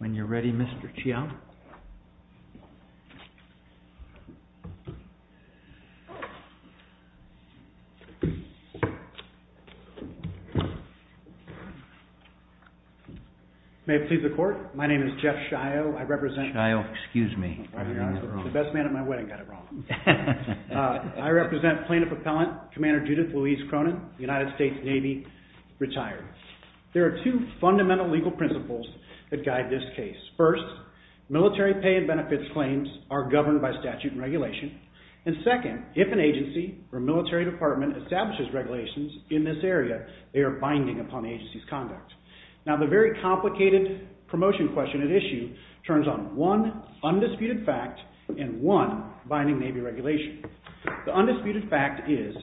When you're ready, Mr. Chiang. May it please the court, my name is Jeff Shio, I represent... Shio, excuse me. The best man at my wedding got it wrong. I represent plaintiff appellant, Commander Judith Louise Cronin, United States Navy, retired. There are two fundamental legal principles that guide this case. First, military pay and benefits claims are governed by statute and regulation. And second, if an agency or military department establishes regulations in this area, they are binding upon the agency's conduct. Now, the very complicated promotion question at issue turns on one undisputed fact and one binding Navy regulation. The undisputed fact is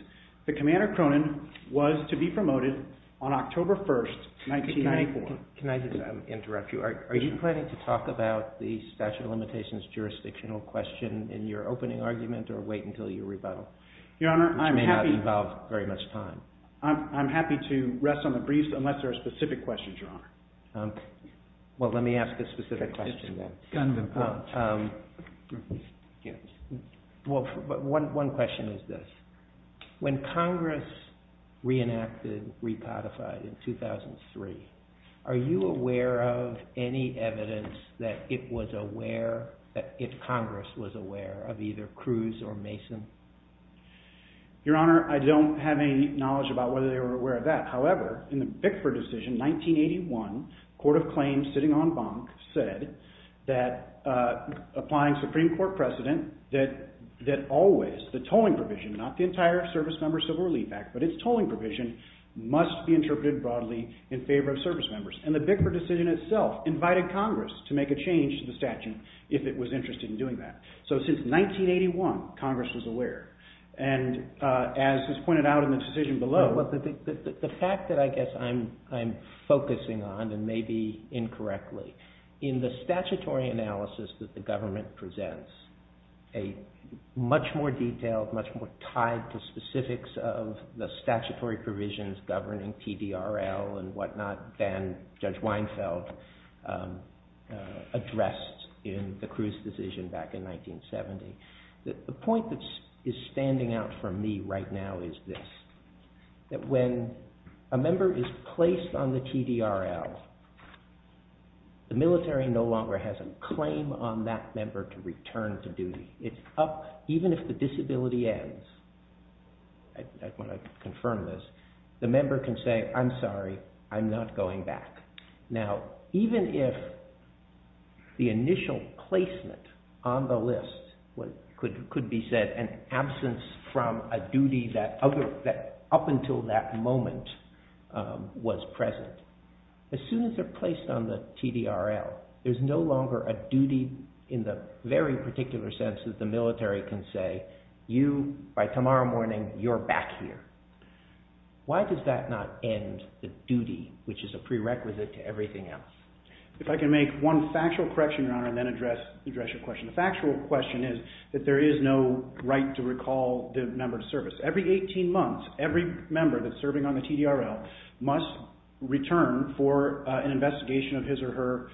that Commander Cronin was to be promoted on October 1st, 1994. Can I just interrupt you? Are you planning to talk about the statute of limitations jurisdictional question in your opening argument or wait until your rebuttal? Your Honor, I'm happy... Which may not involve very much time. I'm happy to rest on the breeze unless there are specific questions, Your Honor. Well, let me ask a specific question then. Well, one question is this. When Congress reenacted Repodified in 2003, are you aware of any evidence that it was aware, that Congress was aware of either Cruz or Mason? Your Honor, I don't have any knowledge about whether they were aware of that. However, in the Bickford decision, 1981, Court of Claims sitting on bunk said that applying Supreme Court precedent that always the tolling provision, not the entire Service Member Civil Relief Act, but its tolling provision must be interpreted broadly in favor of service members. And the Bickford decision itself invited Congress to make a change to the statute if it was interested in doing that. So since 1981, Congress was aware. And as is pointed out in the decision below... The fact that I guess I'm focusing on, and maybe incorrectly, in the statutory analysis that the government presents, a much more detailed, much more tied to specifics of the statutory provisions governing TDRL and whatnot than Judge Weinfeld addressed in the Cruz decision back in 1970. The point that is standing out for me right now is this. That when a member is placed on the TDRL, the military no longer has a claim on that member to return to duty. It's up, even if the disability ends, I want to confirm this, the member can say, I'm sorry, I'm not going back. Now, even if the initial placement on the list could be said an absence from a duty that up until that moment was present, as soon as they're placed on the TDRL, there's no longer a duty in the very particular sense that the military can say, you, by tomorrow morning, you're back here. Why does that not end the duty, which is a prerequisite to everything else? If I can make one factual correction, Your Honor, and then address your question. The factual question is that there is no right to recall the member to service. Every 18 months, every member that's serving on the TDRL must return for an investigation of his or her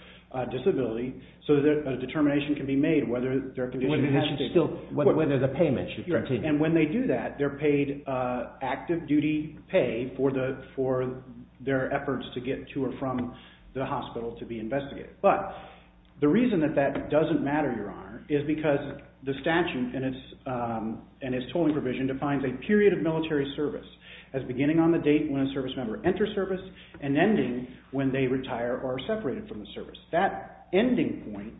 disability so that a determination can be made whether their condition... Whether the payment should continue. And when they do that, they're paid active duty pay for their efforts to get to or from the hospital to be investigated. But the reason that that doesn't matter, Your Honor, is because the statute and its tolling provision defines a period of military service as beginning on the date when a service member enters service and ending when they retire or are separated from the service. That ending point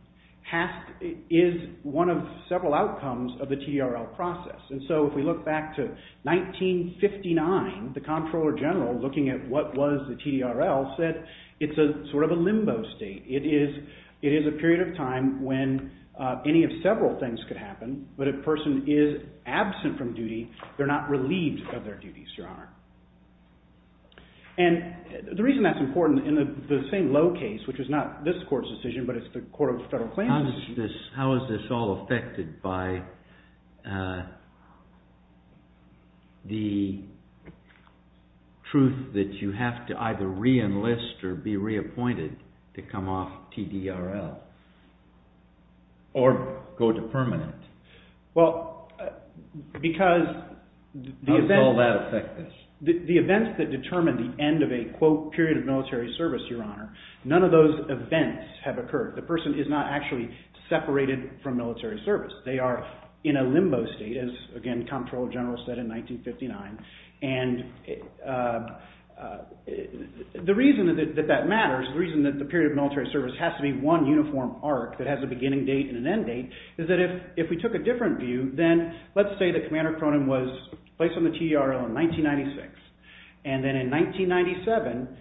is one of several outcomes of the TDRL process. And so if we look back to 1959, the Comptroller General, looking at what was the TDRL, said it's sort of a limbo state. It is a period of time when any of several things could happen, but if a person is absent from duty, they're not relieved of their duties, Your Honor. And the reason that's important in the same low case, which is not this court's decision, but it's the Court of Federal Claims... How is this all affected by the truth that you have to either re-enlist or be reappointed to come off TDRL or go to permanent? Well, because... How does all that affect this? The events that determine the end of a, quote, period of military service, Your Honor, none of those events have occurred. The person is not actually separated from military service. They are in a limbo state, as, again, Comptroller General said in 1959. And the reason that that matters, the reason that the period of military service has to be one uniform arc that has a beginning date and an end date, is that if we took a different view, then let's say that Commander Cronin was placed on the TDRL in 1996, and then in 1997,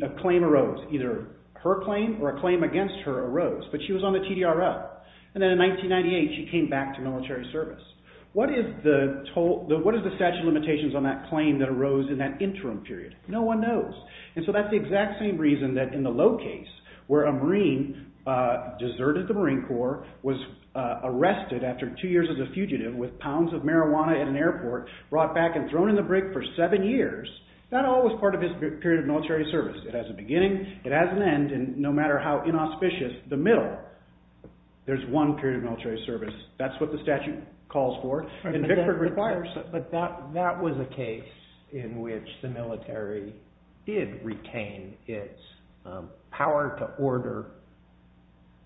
a claim arose, either her claim or a claim against her arose, but she was on the TDRL. And then in 1998, she came back to military service. What is the statute of limitations on that claim that arose in that interim period? No one knows. And so that's the exact same reason that in the low case, where a Marine deserted the country as a fugitive with pounds of marijuana at an airport, brought back and thrown in the brig for seven years, that all was part of his period of military service. It has a beginning, it has an end, and no matter how inauspicious, the middle, there's one period of military service. That's what the statute calls for, and Vickford requires it. But that was a case in which the military did retain its power to order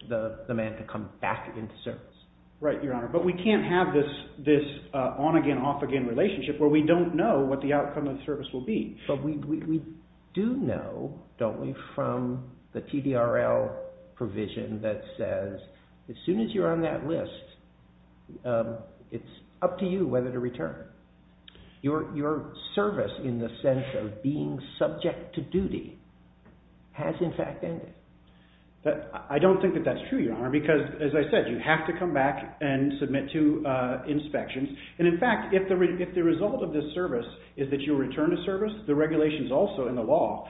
the man to come back into service. Right, Your Honor. But we can't have this on-again, off-again relationship where we don't know what the outcome of the service will be. But we do know, don't we, from the TDRL provision that says as soon as you're on that list, it's up to you whether to return. Your service in the sense of being subject to duty has in fact ended. I don't think that that's true, Your Honor, because as I said, you have to come back and submit to inspections. And in fact, if the result of this service is that you'll return to service, the regulations also in the law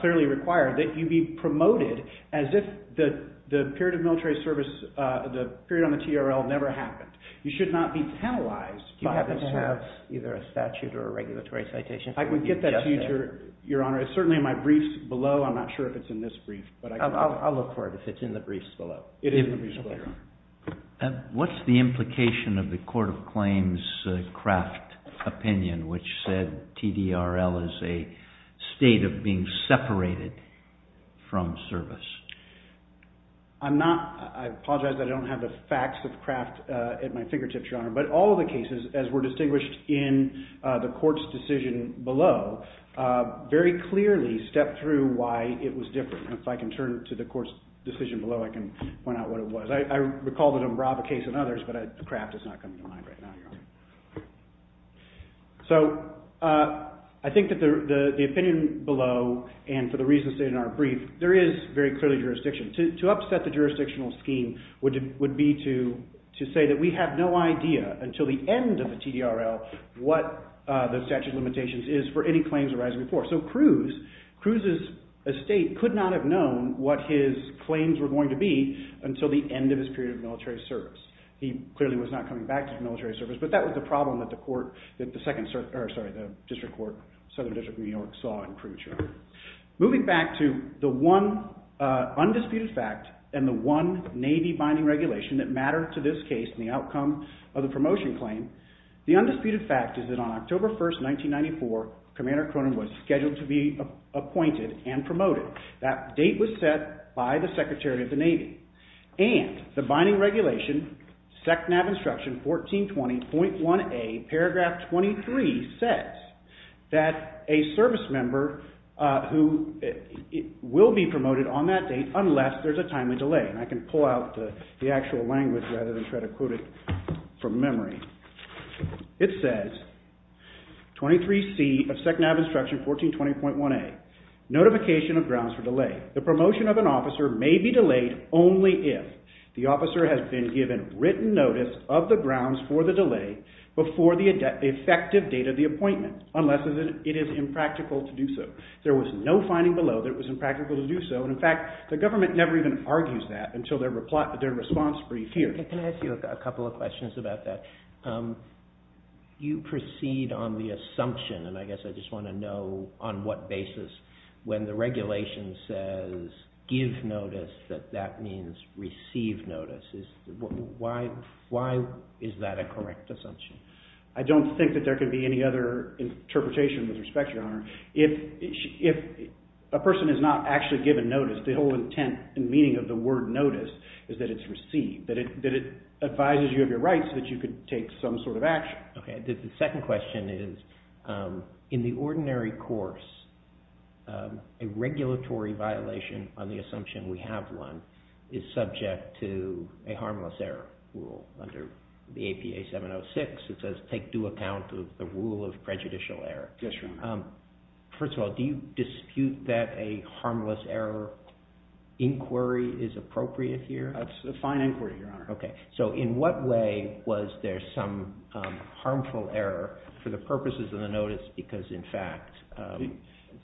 clearly require that you be promoted as if the period of military service, the period on the TRL never happened. You should not be penalized by this service. You happen to have either a statute or a regulatory citation. I would get that to you, Your Honor. It's certainly in my briefs below. I'm not sure if it's in this brief. I'll look for it if it's in the briefs below. It is in the briefs below, Your Honor. What's the implication of the Court of Claims' Kraft opinion, which said TDRL is a state of being separated from service? I apologize that I don't have the facts of Kraft at my fingertips, Your Honor. But all of the cases, as were distinguished in the court's decision below, very clearly stepped through why it was different. And if I can turn to the court's decision below, I can point out what it was. I recall the Dombrava case and others, but Kraft is not coming to mind right now, Your Honor. So I think that the opinion below and for the reasons stated in our brief, there is very clearly jurisdiction. To upset the jurisdictional scheme would be to say that we have no idea until the end of the TDRL what the statute of limitations is for any claims arising before. So Cruz's estate could not have known what his claims were going to be until the end of his period of military service. He clearly was not coming back to the military service, but that was the problem that the district court, Southern District of New York, saw in Cruz, Your Honor. Moving back to the one undisputed fact and the one Navy binding regulation that mattered to this case and the outcome of the promotion claim, the undisputed fact is that on October 1st, 1994, Commander Cronin was scheduled to be appointed and promoted. That date was set by the Secretary of the Navy. And the binding regulation, SECNAV Instruction 1420.1a, paragraph 23, says that a service member will be promoted on that date unless there is a timely delay. And I can pull out the actual language rather than try to quote it from memory. It says, 23C of SECNAV Instruction 1420.1a, notification of grounds for delay. The promotion of an officer may be delayed only if the officer has been given written notice of the grounds for the delay before the effective date of the appointment, unless it is impractical to do so. There was no finding below that it was impractical to do so, and in fact, the government never even argues that until their response brief here. Can I ask you a couple of questions about that? You proceed on the assumption, and I guess I just want to know on what basis, when the regulation says give notice, that that means receive notice. Why is that a correct assumption? I don't think that there could be any other interpretation with respect, Your Honor. If a person is not actually given notice, the whole intent and meaning of the word notice is that it's received, that it advises you of your rights that you could take some sort of action. Okay. The second question is, in the ordinary course, a regulatory violation on the assumption we have one is subject to a harmless error rule. Under the APA 706, it says take due account of the rule of prejudicial error. Yes, Your Honor. First of all, do you dispute that a harmless error inquiry is appropriate here? That's a fine inquiry, Your Honor. Okay. In what way was there some harmful error for the purposes of the notice because, in fact,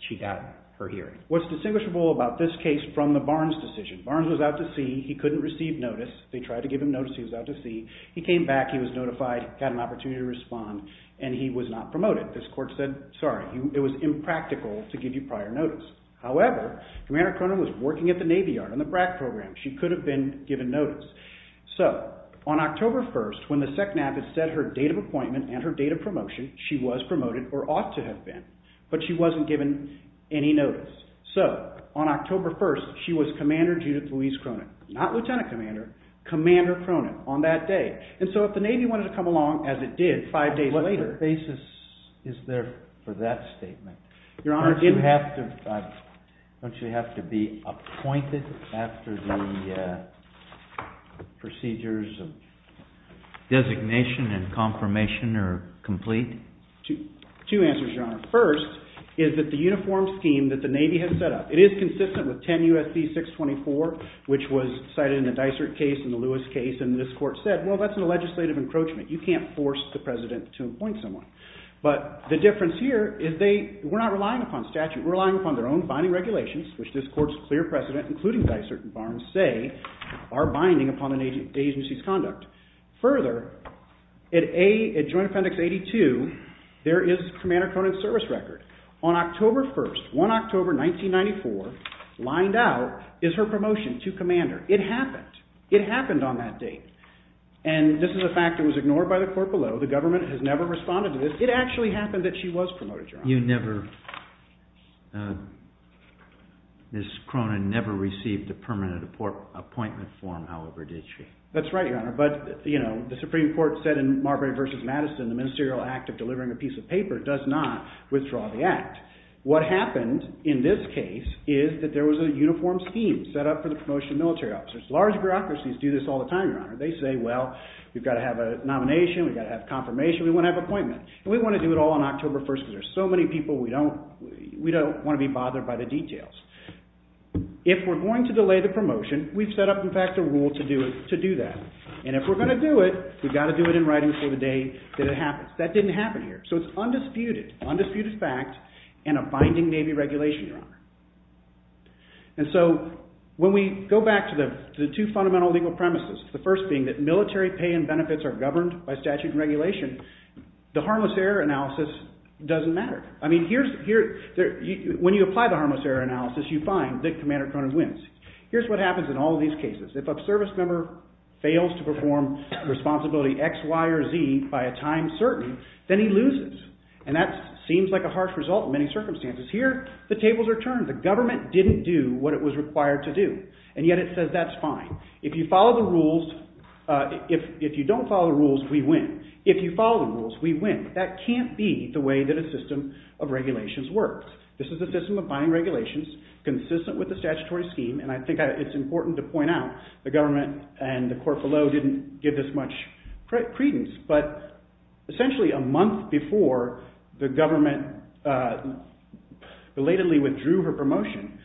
she got her hearing? Okay. What's distinguishable about this case from the Barnes decision? Barnes was out to sea. He couldn't receive notice. They tried to give him notice. He was out to sea. He came back. He was notified. He got an opportunity to respond, and he was not promoted. This court said, sorry, it was impractical to give you prior notice. However, Commander Cronin was working at the Navy Yard on the BRAC program. She could have been given notice. So, on October 1st, when the SECNAP had set her date of appointment and her date of promotion, she was promoted or ought to have been, but she wasn't given any notice. So, on October 1st, she was Commander Judith Louise Cronin, not Lieutenant Commander, Commander Cronin on that day. And so, if the Navy wanted to come along, as it did five days later— What basis is there for that statement? Your Honor— Don't you have to be appointed after the procedures of designation and confirmation are complete? Two answers, Your Honor. First is that the uniform scheme that the Navy has set up, it is consistent with 10 U.S.C. 624, which was cited in the Dysart case and the Lewis case, and this court said, well, that's a legislative encroachment. You can't force the president to appoint someone. But the difference here is we're not relying upon statute. We're relying upon their own binding regulations, which this court's clear precedent, including Dysart and Barnes, say are binding upon an agency's conduct. Further, at Joint Offendics 82, there is Commander Cronin's service record. On October 1st, 1 October 1994, lined out is her promotion to commander. It happened. It happened on that date. And this is a fact that was ignored by the court below. The government has never responded to this. It actually happened that she was promoted, Your Honor. You never—Ms. Cronin never received a permanent appointment form, however, did she? That's right, Your Honor. But, you know, the Supreme Court said in Marbury v. Madison, the ministerial act of delivering a piece of paper does not withdraw the act. What happened in this case is that there was a uniform scheme set up for the promotion of military officers. Large bureaucracies do this all the time, Your Honor. They say, well, we've got to have a nomination. We've got to have confirmation. We want to have an appointment. And we want to do it all on October 1st because there are so many people. We don't want to be bothered by the details. If we're going to delay the promotion, we've set up, in fact, a rule to do that. And if we're going to do it, we've got to do it in writing before the day that it happens. That didn't happen here. So it's undisputed, undisputed fact and a binding Navy regulation, Your Honor. And so when we go back to the two fundamental legal premises, the first being that military pay and benefits are governed by statute and regulation, the harmless error analysis doesn't matter. I mean, when you apply the harmless error analysis, you find that Commander Cronin wins. Here's what happens in all these cases. If a service member fails to perform responsibility X, Y, or Z by a time certain, then he loses. And that seems like a harsh result in many circumstances. Here the tables are turned. The government didn't do what it was required to do. And yet it says that's fine. If you follow the rules, if you don't follow the rules, we win. If you follow the rules, we win. That can't be the way that a system of regulations works. This is a system of binding regulations consistent with the statutory scheme, and I think it's important to point out the government and the court below didn't give this much credence. But essentially a month before the government belatedly withdrew her promotion,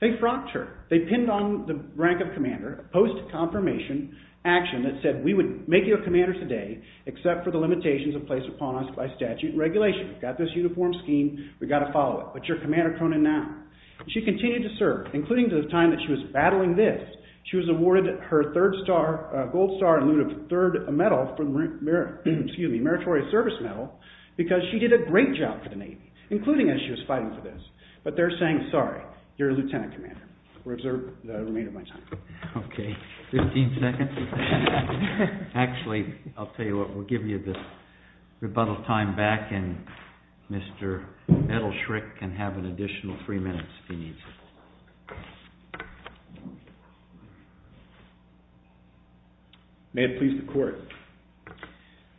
they frocked her. They pinned on the rank of commander a post-confirmation action that said we would make you a commander today except for the limitations that are placed upon us by statute and regulation. We've got this uniform scheme. We've got to follow it. But you're commander Cronin now. She continued to serve, including the time that she was battling this. She was awarded her third gold star in lieu of a third medal, excuse me, a meritorious service medal, because she did a great job for the Navy, including as she was fighting for this. But they're saying, sorry, you're a lieutenant commander. We'll observe the remainder of my time. Okay. Fifteen seconds. Actually, I'll tell you what, we'll give you the rebuttal time back and Mr. Edelschrick can have an additional three minutes if he needs it. May it please the court.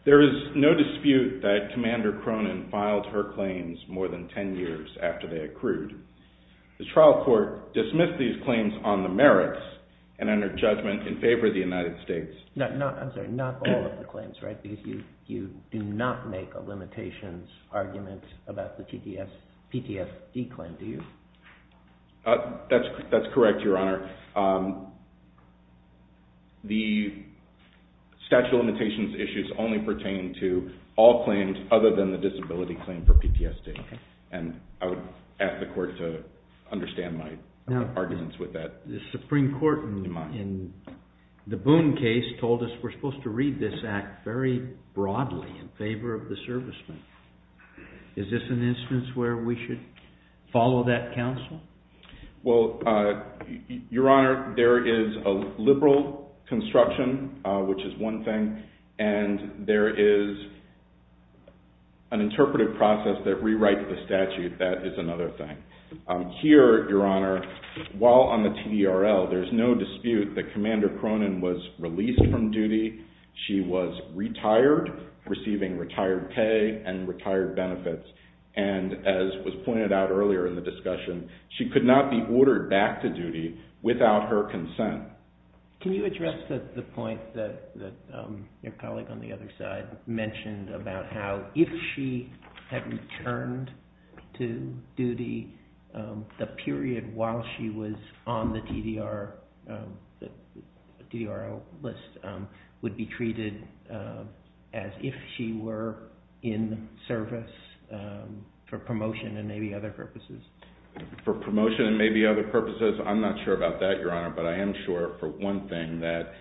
There is no dispute that Commander Cronin filed her claims more than ten years after they accrued. The trial court dismissed these claims on the merits and under judgment in favor of the United States. I'm sorry, not all of the claims, right? Because you do not make a limitations argument about the PTSD claim, do you? That's correct, Your Honor. The statute of limitations issues only pertain to all claims other than the disability claim for PTSD. And I would ask the court to understand my arguments with that. The Supreme Court in the Boone case told us we're supposed to read this act very broadly in favor of the servicemen. Is this an instance where we should follow that counsel? Well, Your Honor, there is a liberal construction, which is one thing, and there is an interpretive process that rewrites the statute. That is another thing. Here, Your Honor, while on the TDRL, there is no dispute that Commander Cronin was released from duty. She was retired, receiving retired pay and retired benefits. And as was pointed out earlier in the discussion, she could not be ordered back to duty without her consent. Can you address the point that your colleague on the other side mentioned about how if she had returned to duty, the period while she was on the TDRL list would be treated as if she were in service for promotion and maybe other purposes? For promotion and maybe other purposes, I'm not sure about that, Your Honor, but I am sure for one thing that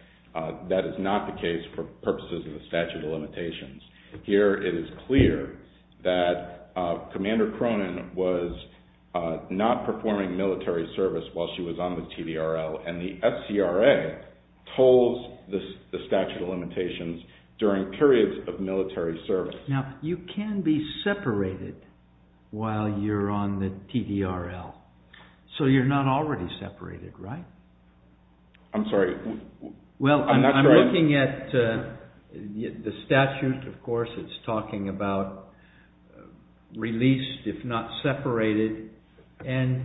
that is not the case for purposes of the statute of limitations. Here it is clear that Commander Cronin was not performing military service while she was on the TDRL, and the FCRA holds the statute of limitations during periods of military service. Now, you can be separated while you're on the TDRL. So you're not already separated, right? I'm sorry. Well, I'm looking at the statute. Of course, it's talking about released if not separated, and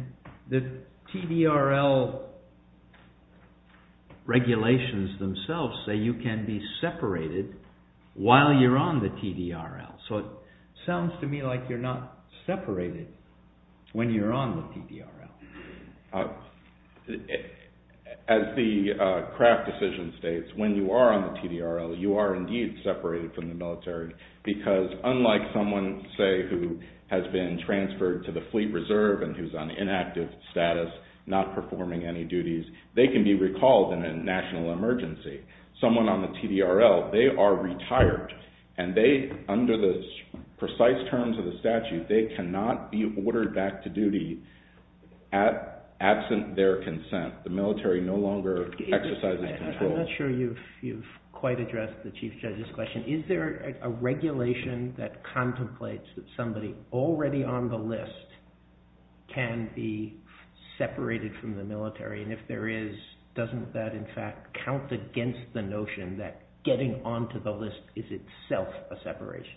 the TDRL regulations themselves say you can be separated while you're on the TDRL. So it sounds to me like you're not separated when you're on the TDRL. As the Kraft decision states, when you are on the TDRL, you are indeed separated from the military because unlike someone, say, who has been transferred to the fleet reserve and who's on inactive status, not performing any duties, they can be recalled in a national emergency. Someone on the TDRL, they are retired, and under the precise terms of the statute, they cannot be ordered back to duty absent their consent. The military no longer exercises control. I'm not sure you've quite addressed the Chief Judge's question. Is there a regulation that contemplates that somebody already on the list can be separated from the military, and if there is, doesn't that in fact count against the notion that getting onto the list is itself a separation?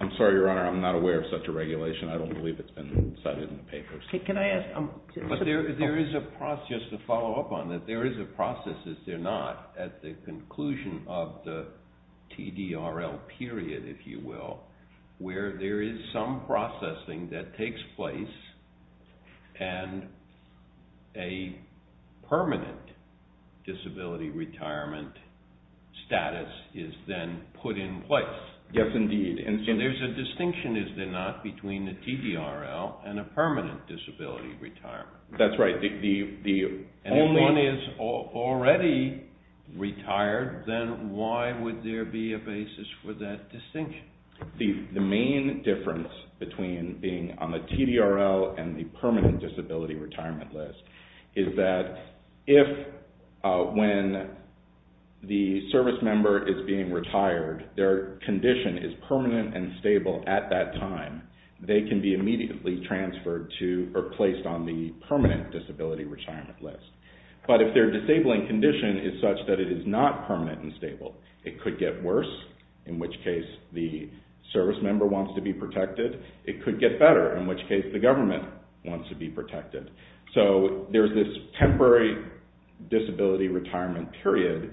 I'm sorry, Your Honor, I'm not aware of such a regulation. I don't believe it's been cited in the papers. Can I ask? There is a process, just to follow up on that, there is a process, if there not, at the conclusion of the TDRL period, if you will, where there is some processing that takes place and a permanent disability retirement status is then put in place. Yes, indeed. And so there's a distinction, is there not, between the TDRL and a permanent disability retirement. That's right. And if one is already retired, then why would there be a basis for that distinction? The main difference between being on the TDRL and the permanent disability retirement list is that if, when the service member is being retired, their condition is permanent and stable at that time, they can be immediately transferred to or placed on the permanent disability retirement list. But if their disabling condition is such that it is not permanent and stable, it could get worse, in which case the service member wants to be protected. It could get better, in which case the government wants to be protected. So there's this temporary disability retirement period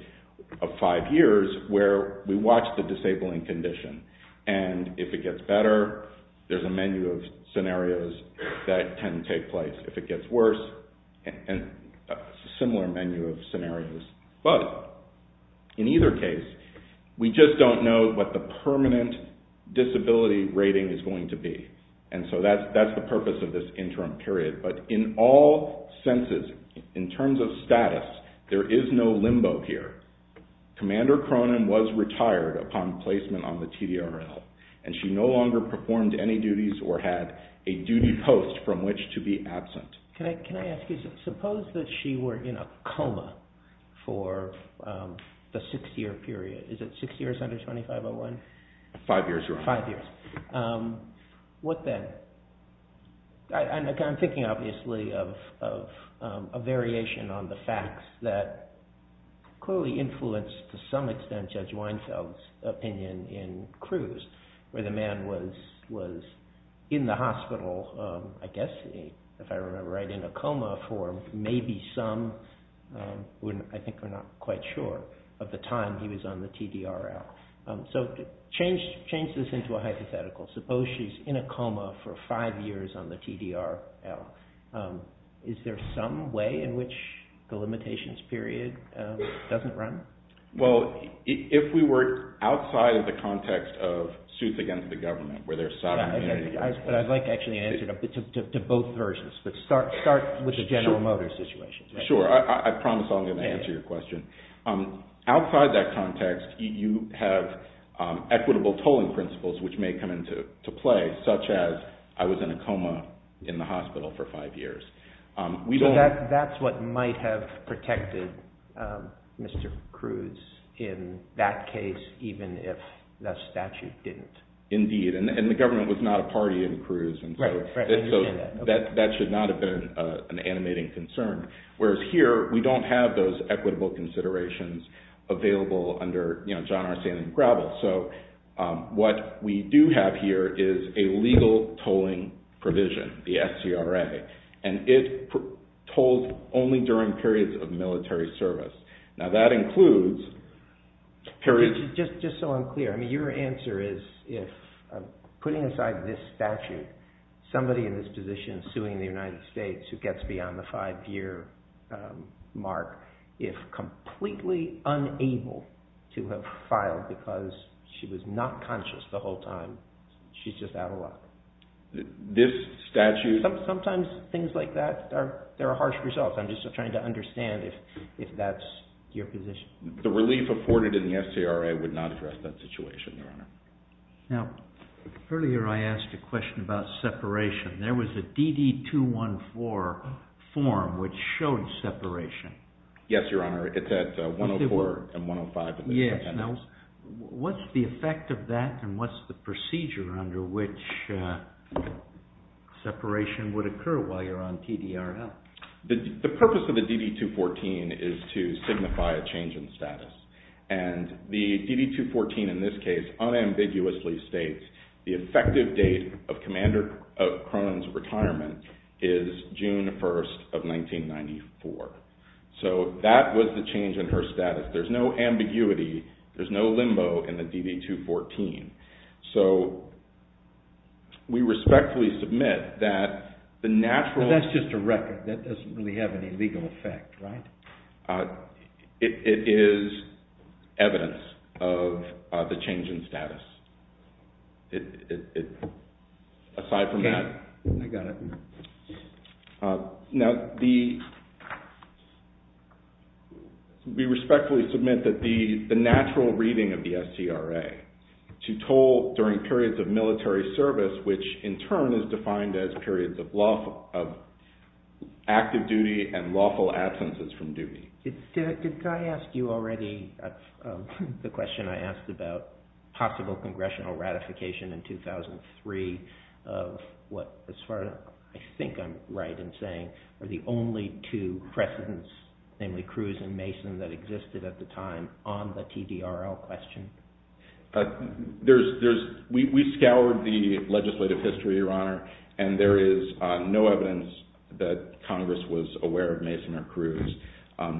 of five years where we watch the disabling condition. And if it gets better, there's a menu of scenarios that can take place. If it gets worse, a similar menu of scenarios. But in either case, we just don't know what the permanent disability rating is going to be. And so that's the purpose of this interim period. But in all senses, in terms of status, there is no limbo here. Commander Cronin was retired upon placement on the TDRL, and she no longer performed any duties or had a duty post from which to be absent. Can I ask you, suppose that she were in a coma for the six-year period. Is it six years under 2501? Five years. Five years. What then? I'm thinking, obviously, of a variation on the facts that clearly influenced, to some extent, Judge Weinfeld's opinion in Cruz, where the man was in the hospital, I guess, if I remember right, in a coma for maybe some, I think we're not quite sure, of the time he was on the TDRL. So change this into a hypothetical. Suppose she's in a coma for five years on the TDRL. Is there some way in which the limitations period doesn't run? Well, if we were outside of the context of suits against the government, where there's sovereignty. But I'd like, actually, an answer to both versions. But start with the General Motors situation. I promise I'm going to answer your question. Outside that context, you have equitable tolling principles, which may come into play, such as, I was in a coma in the hospital for five years. So that's what might have protected Mr. Cruz in that case, even if the statute didn't. Indeed. And the government was not a party in Cruz, and so that should not have been an animating concern. Whereas here, we don't have those equitable considerations available under John R. Sandlin Gravel. So what we do have here is a legal tolling provision, the SCRA. And it tolls only during periods of military service. Now that includes periods... Just so I'm clear. Your answer is, if, putting aside this statute, somebody in this position suing the United States, who gets beyond the five-year mark, if completely unable to have filed because she was not conscious the whole time, she's just out of luck. This statute... Sometimes things like that, there are harsh results. I'm just trying to understand if that's your position. The relief afforded in the SCRA would not address that situation, Your Honor. Now, earlier I asked a question about separation. There was a DD-214 form which showed separation. Yes, Your Honor. It's at 104 and 105. What's the effect of that, and what's the procedure under which separation would occur while you're on TDRL? The purpose of the DD-214 is to signify a change in status. And the DD-214 in this case unambiguously states the effective date of Commander Cronin's retirement is June 1st of 1994. So that was the change in her status. There's no ambiguity. There's no limbo in the DD-214. So we respectfully submit that the natural... It doesn't really have any legal effect, right? It is evidence of the change in status. Aside from that... Okay, I got it. Now, we respectfully submit that the natural reading of the SCRA to toll during periods of military service, which in turn is defined as periods of active duty and lawful absences from duty. Did I ask you already the question I asked about possible congressional ratification in 2003 of what, as far as I think I'm right in saying, are the only two precedents, namely Cruz and Mason, that existed at the time on the TDRL question? No, Your Honor. And there is no evidence that Congress was aware of Mason or Cruz.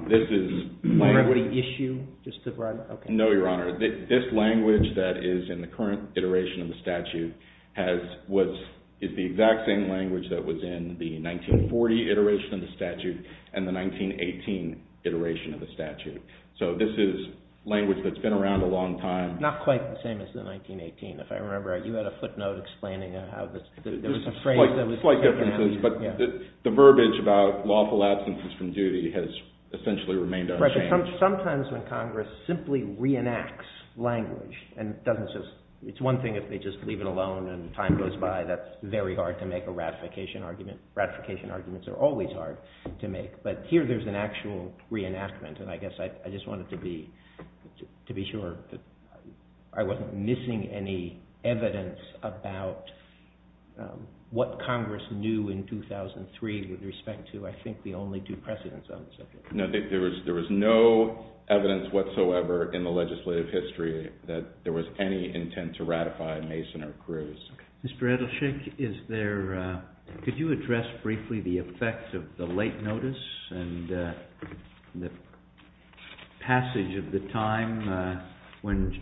This is... Language issue? No, Your Honor. This language that is in the current iteration of the statute is the exact same language that was in the 1940 iteration of the statute and the 1918 iteration of the statute. So this is language that's been around a long time. Not quite the same as the 1918. If I remember right, you had a footnote explaining how there was a phrase that was... Slight differences, but the verbiage about lawful absences from duty has essentially remained unchanged. Sometimes when Congress simply reenacts language and doesn't just... It's one thing if they just leave it alone and time goes by. That's very hard to make a ratification argument. Ratification arguments are always hard to make, but here there's an actual reenactment, and I guess I just wanted to be sure that I wasn't missing any evidence about what Congress knew in 2003 with respect to, I think, the only two precedents on the subject. No, there was no evidence whatsoever in the legislative history that there was any intent to ratify Mason or Cruz. Mr. Edelsheik, is there... Could you address briefly the effect of the late notice and the passage of the time when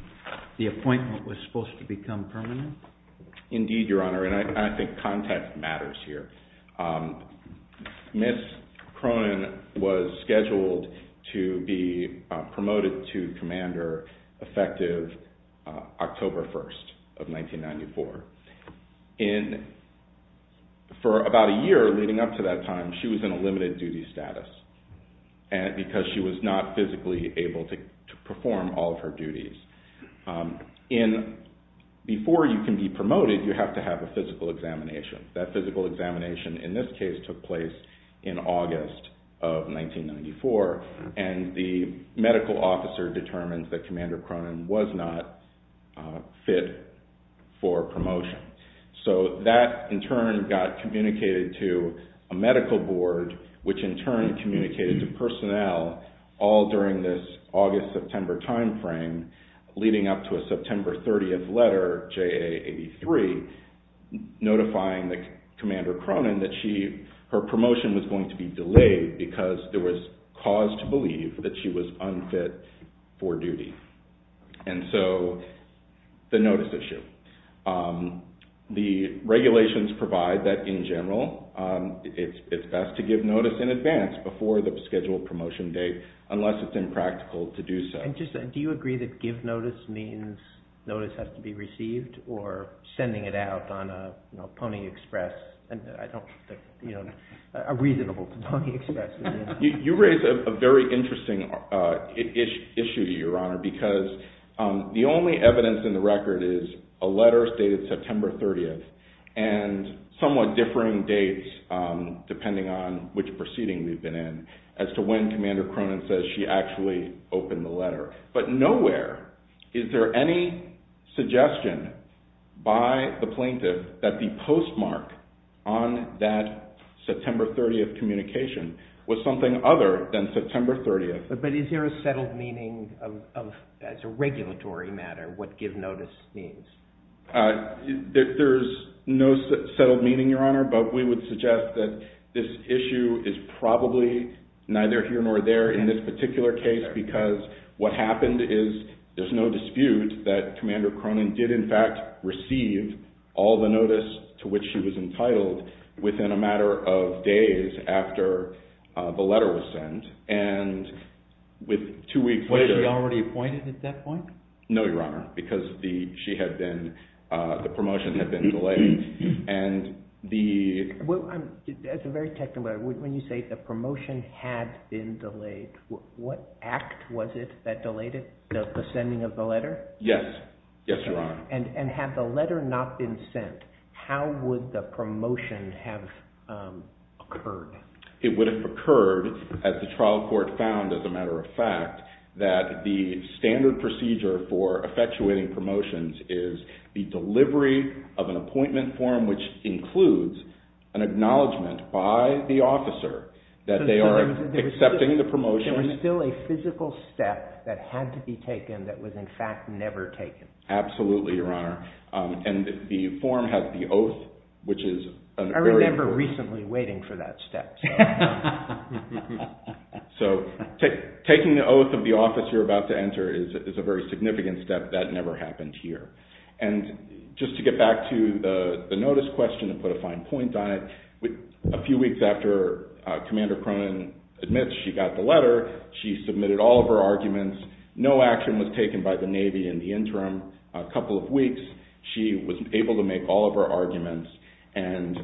the appointment was supposed to become permanent? Indeed, Your Honor, and I think context matters here. Ms. Cronin was scheduled to be promoted to commander effective October 1st of 1994. For about a year leading up to that time, she was in a limited duty status because she was not physically able to perform all of her duties. Before you can be promoted, you have to have a physical examination. That physical examination, in this case, took place in August of 1994, and the medical officer determines that Commander Cronin was not fit for promotion. So that, in turn, got communicated to a medical board, which, in turn, communicated to personnel all during this August-September timeframe, leading up to a September 30th letter, J.A. 83, notifying Commander Cronin that her promotion was going to be delayed because there was cause to believe that she was unfit for duty. And so, the notice issue. The regulations provide that, in general, it's best to give notice in advance before the scheduled promotion date, unless it's impractical to do so. Do you agree that give notice means notice has to be received, or sending it out on a Pony Express, a reasonable Pony Express? You raise a very interesting issue, Your Honor, because the only evidence in the record is a letter stated September 30th and somewhat differing dates, depending on which proceeding we've been in, as to when Commander Cronin says she actually opened the letter. But nowhere is there any suggestion by the plaintiff that the postmark on that September 30th communication was something other than September 30th. But is there a settled meaning, as a regulatory matter, what give notice means? There's no settled meaning, Your Honor, but we would suggest that this issue is probably neither here nor there in this particular case because what happened is there's no dispute that Commander Cronin did, in fact, receive all the notice to which she was entitled within a matter of days after the letter was sent. And with two weeks later… Was she already appointed at that point? No, Your Honor, because the promotion had been delayed. As a very technical matter, when you say the promotion had been delayed, what act was it that delayed it, the sending of the letter? Yes, Your Honor. And had the letter not been sent, how would the promotion have occurred? It would have occurred, as the trial court found, as a matter of fact, that the standard procedure for effectuating promotions is the delivery of an appointment form which includes an acknowledgment by the officer that they are accepting the promotion. There was still a physical step that had to be taken that was, in fact, never taken. Absolutely, Your Honor. And the form has the oath, which is a very… I remember recently waiting for that step. So taking the oath of the office you're about to enter is a very significant step. That never happened here. And just to get back to the notice question and put a fine point on it, a few weeks after Commander Cronin admits she got the letter, she submitted all of her arguments. No action was taken by the Navy in the interim. A couple of weeks, she was able to make all of her arguments, and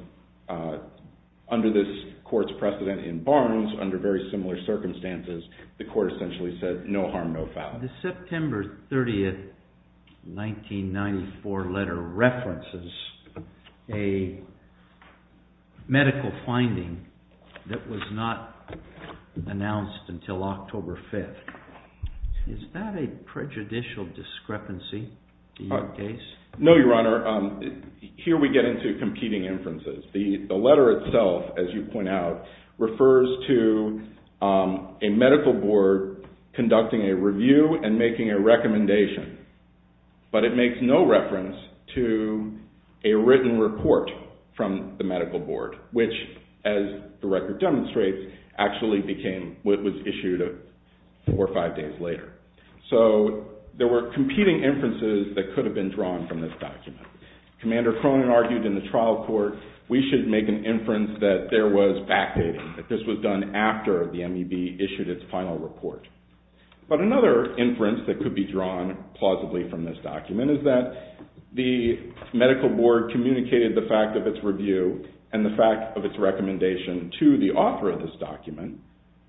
under this court's precedent in Barnes, under very similar circumstances, the court essentially said no harm, no foul. The September 30th, 1994 letter references a medical finding that was not announced until October 5th. Is that a prejudicial discrepancy in your case? No, Your Honor. Here we get into competing inferences. The letter itself, as you point out, refers to a medical board conducting a review and making a recommendation, but it makes no reference to a written report from the medical board, which, as the record demonstrates, actually became what was issued four or five days later. So there were competing inferences that could have been drawn from this document. Commander Cronin argued in the trial court, we should make an inference that there was fact-dating, that this was done after the MEB issued its final report. But another inference that could be drawn plausibly from this document is that the medical board communicated the fact of its review and the fact of its recommendation to the author of this document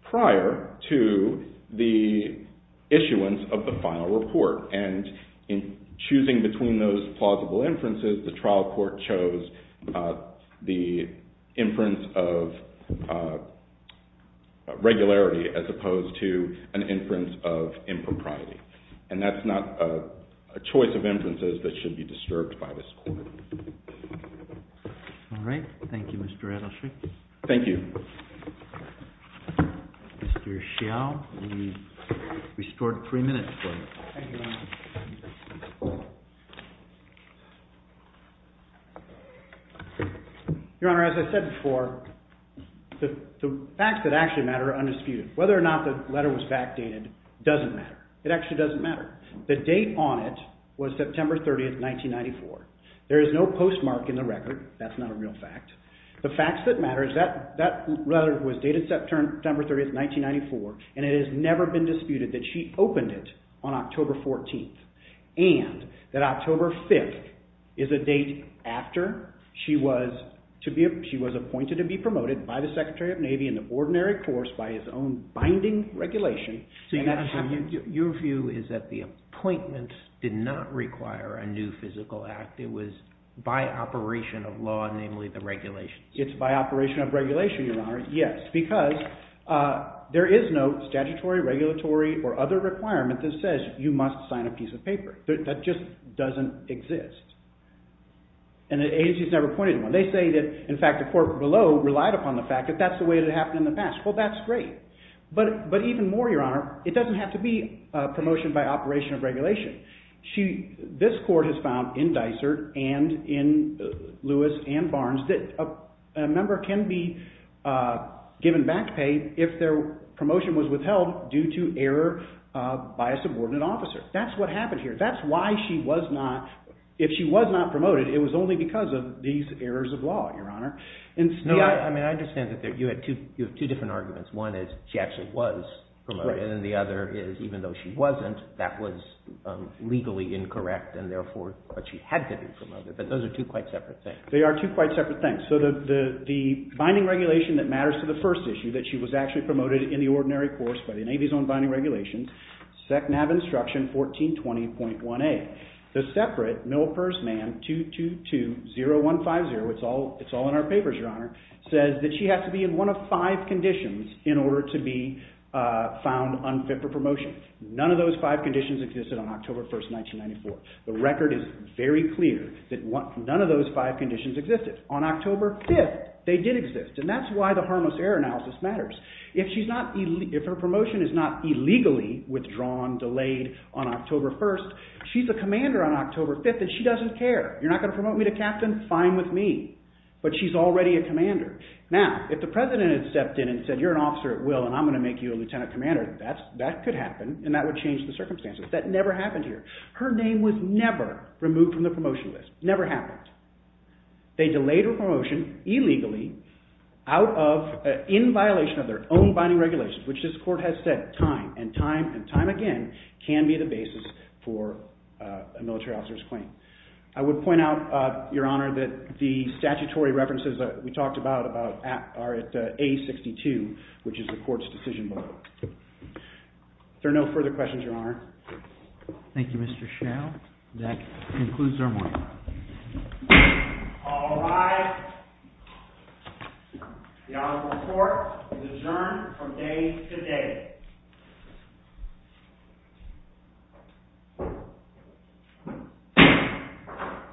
prior to the issuance of the final report, and in choosing between those plausible inferences, the trial court chose the inference of regularity as opposed to an inference of impropriety. And that's not a choice of inferences that should be disturbed by this court. All right. Thank you, Mr. Adelstein. Thank you. Mr. Hsiao, we've restored three minutes for you. Thank you, Your Honor. Your Honor, as I said before, the facts that actually matter are undisputed. Whether or not the letter was fact-dated doesn't matter. It actually doesn't matter. The date on it was September 30, 1994. There is no postmark in the record. That's not a real fact. The facts that matter is that letter was dated September 30, 1994, and it has never been disputed that she opened it on October 14th and that October 5th is a date after she was appointed to be promoted by the Secretary of Navy in the ordinary course by his own binding regulation. Your view is that the appointment did not require a new physical act. It was by operation of law, namely the regulations. It's by operation of regulation, Your Honor, yes, because there is no statutory, regulatory, or other requirement that says you must sign a piece of paper. That just doesn't exist, and the agency has never pointed to one. They say that, in fact, the court below relied upon the fact that that's the way it had happened in the past. Well, that's great, but even more, Your Honor, it doesn't have to be a promotion by operation of regulation. This court has found in Dysart and in Lewis and Barnes that a member can be given back pay if their promotion was withheld due to error by a subordinate officer. That's what happened here. That's why she was not, if she was not promoted, it was only because of these errors of law, Your Honor. I understand that you have two different arguments. One is she actually was promoted, and the other is even though she wasn't, that was legally incorrect, and therefore what she had to do was promote it, but those are two quite separate things. They are two quite separate things. So the binding regulation that matters to the first issue, that she was actually promoted in the ordinary course by the Navy's own binding regulations, SEC NAV instruction 1420.1A. The separate MilPERS man 2220150, it's all in our papers, Your Honor, says that she had to be in one of five conditions in order to be found unfit for promotion. None of those five conditions existed on October 1, 1994. The record is very clear that none of those five conditions existed. On October 5, they did exist, and that's why the harmless error analysis matters. If her promotion is not illegally withdrawn, delayed on October 1, she's a commander on October 5, and she doesn't care. You're not going to promote me to captain? Fine with me. But she's already a commander. Now, if the President had stepped in and said you're an officer at will and I'm going to make you a lieutenant commander, that could happen, and that would change the circumstances. That never happened here. Her name was never removed from the promotion list. Never happened. They delayed her promotion illegally out of, in violation of their own binding regulations, which this Court has said time and time and time again can be the basis for a military officer's claim. I would point out, Your Honor, that the statutory references that we talked about are at A62, which is the Court's decision below. Are there no further questions, Your Honor? Thank you, Mr. Schell. That concludes our morning. All rise. The Honorable Court is adjourned from day to day.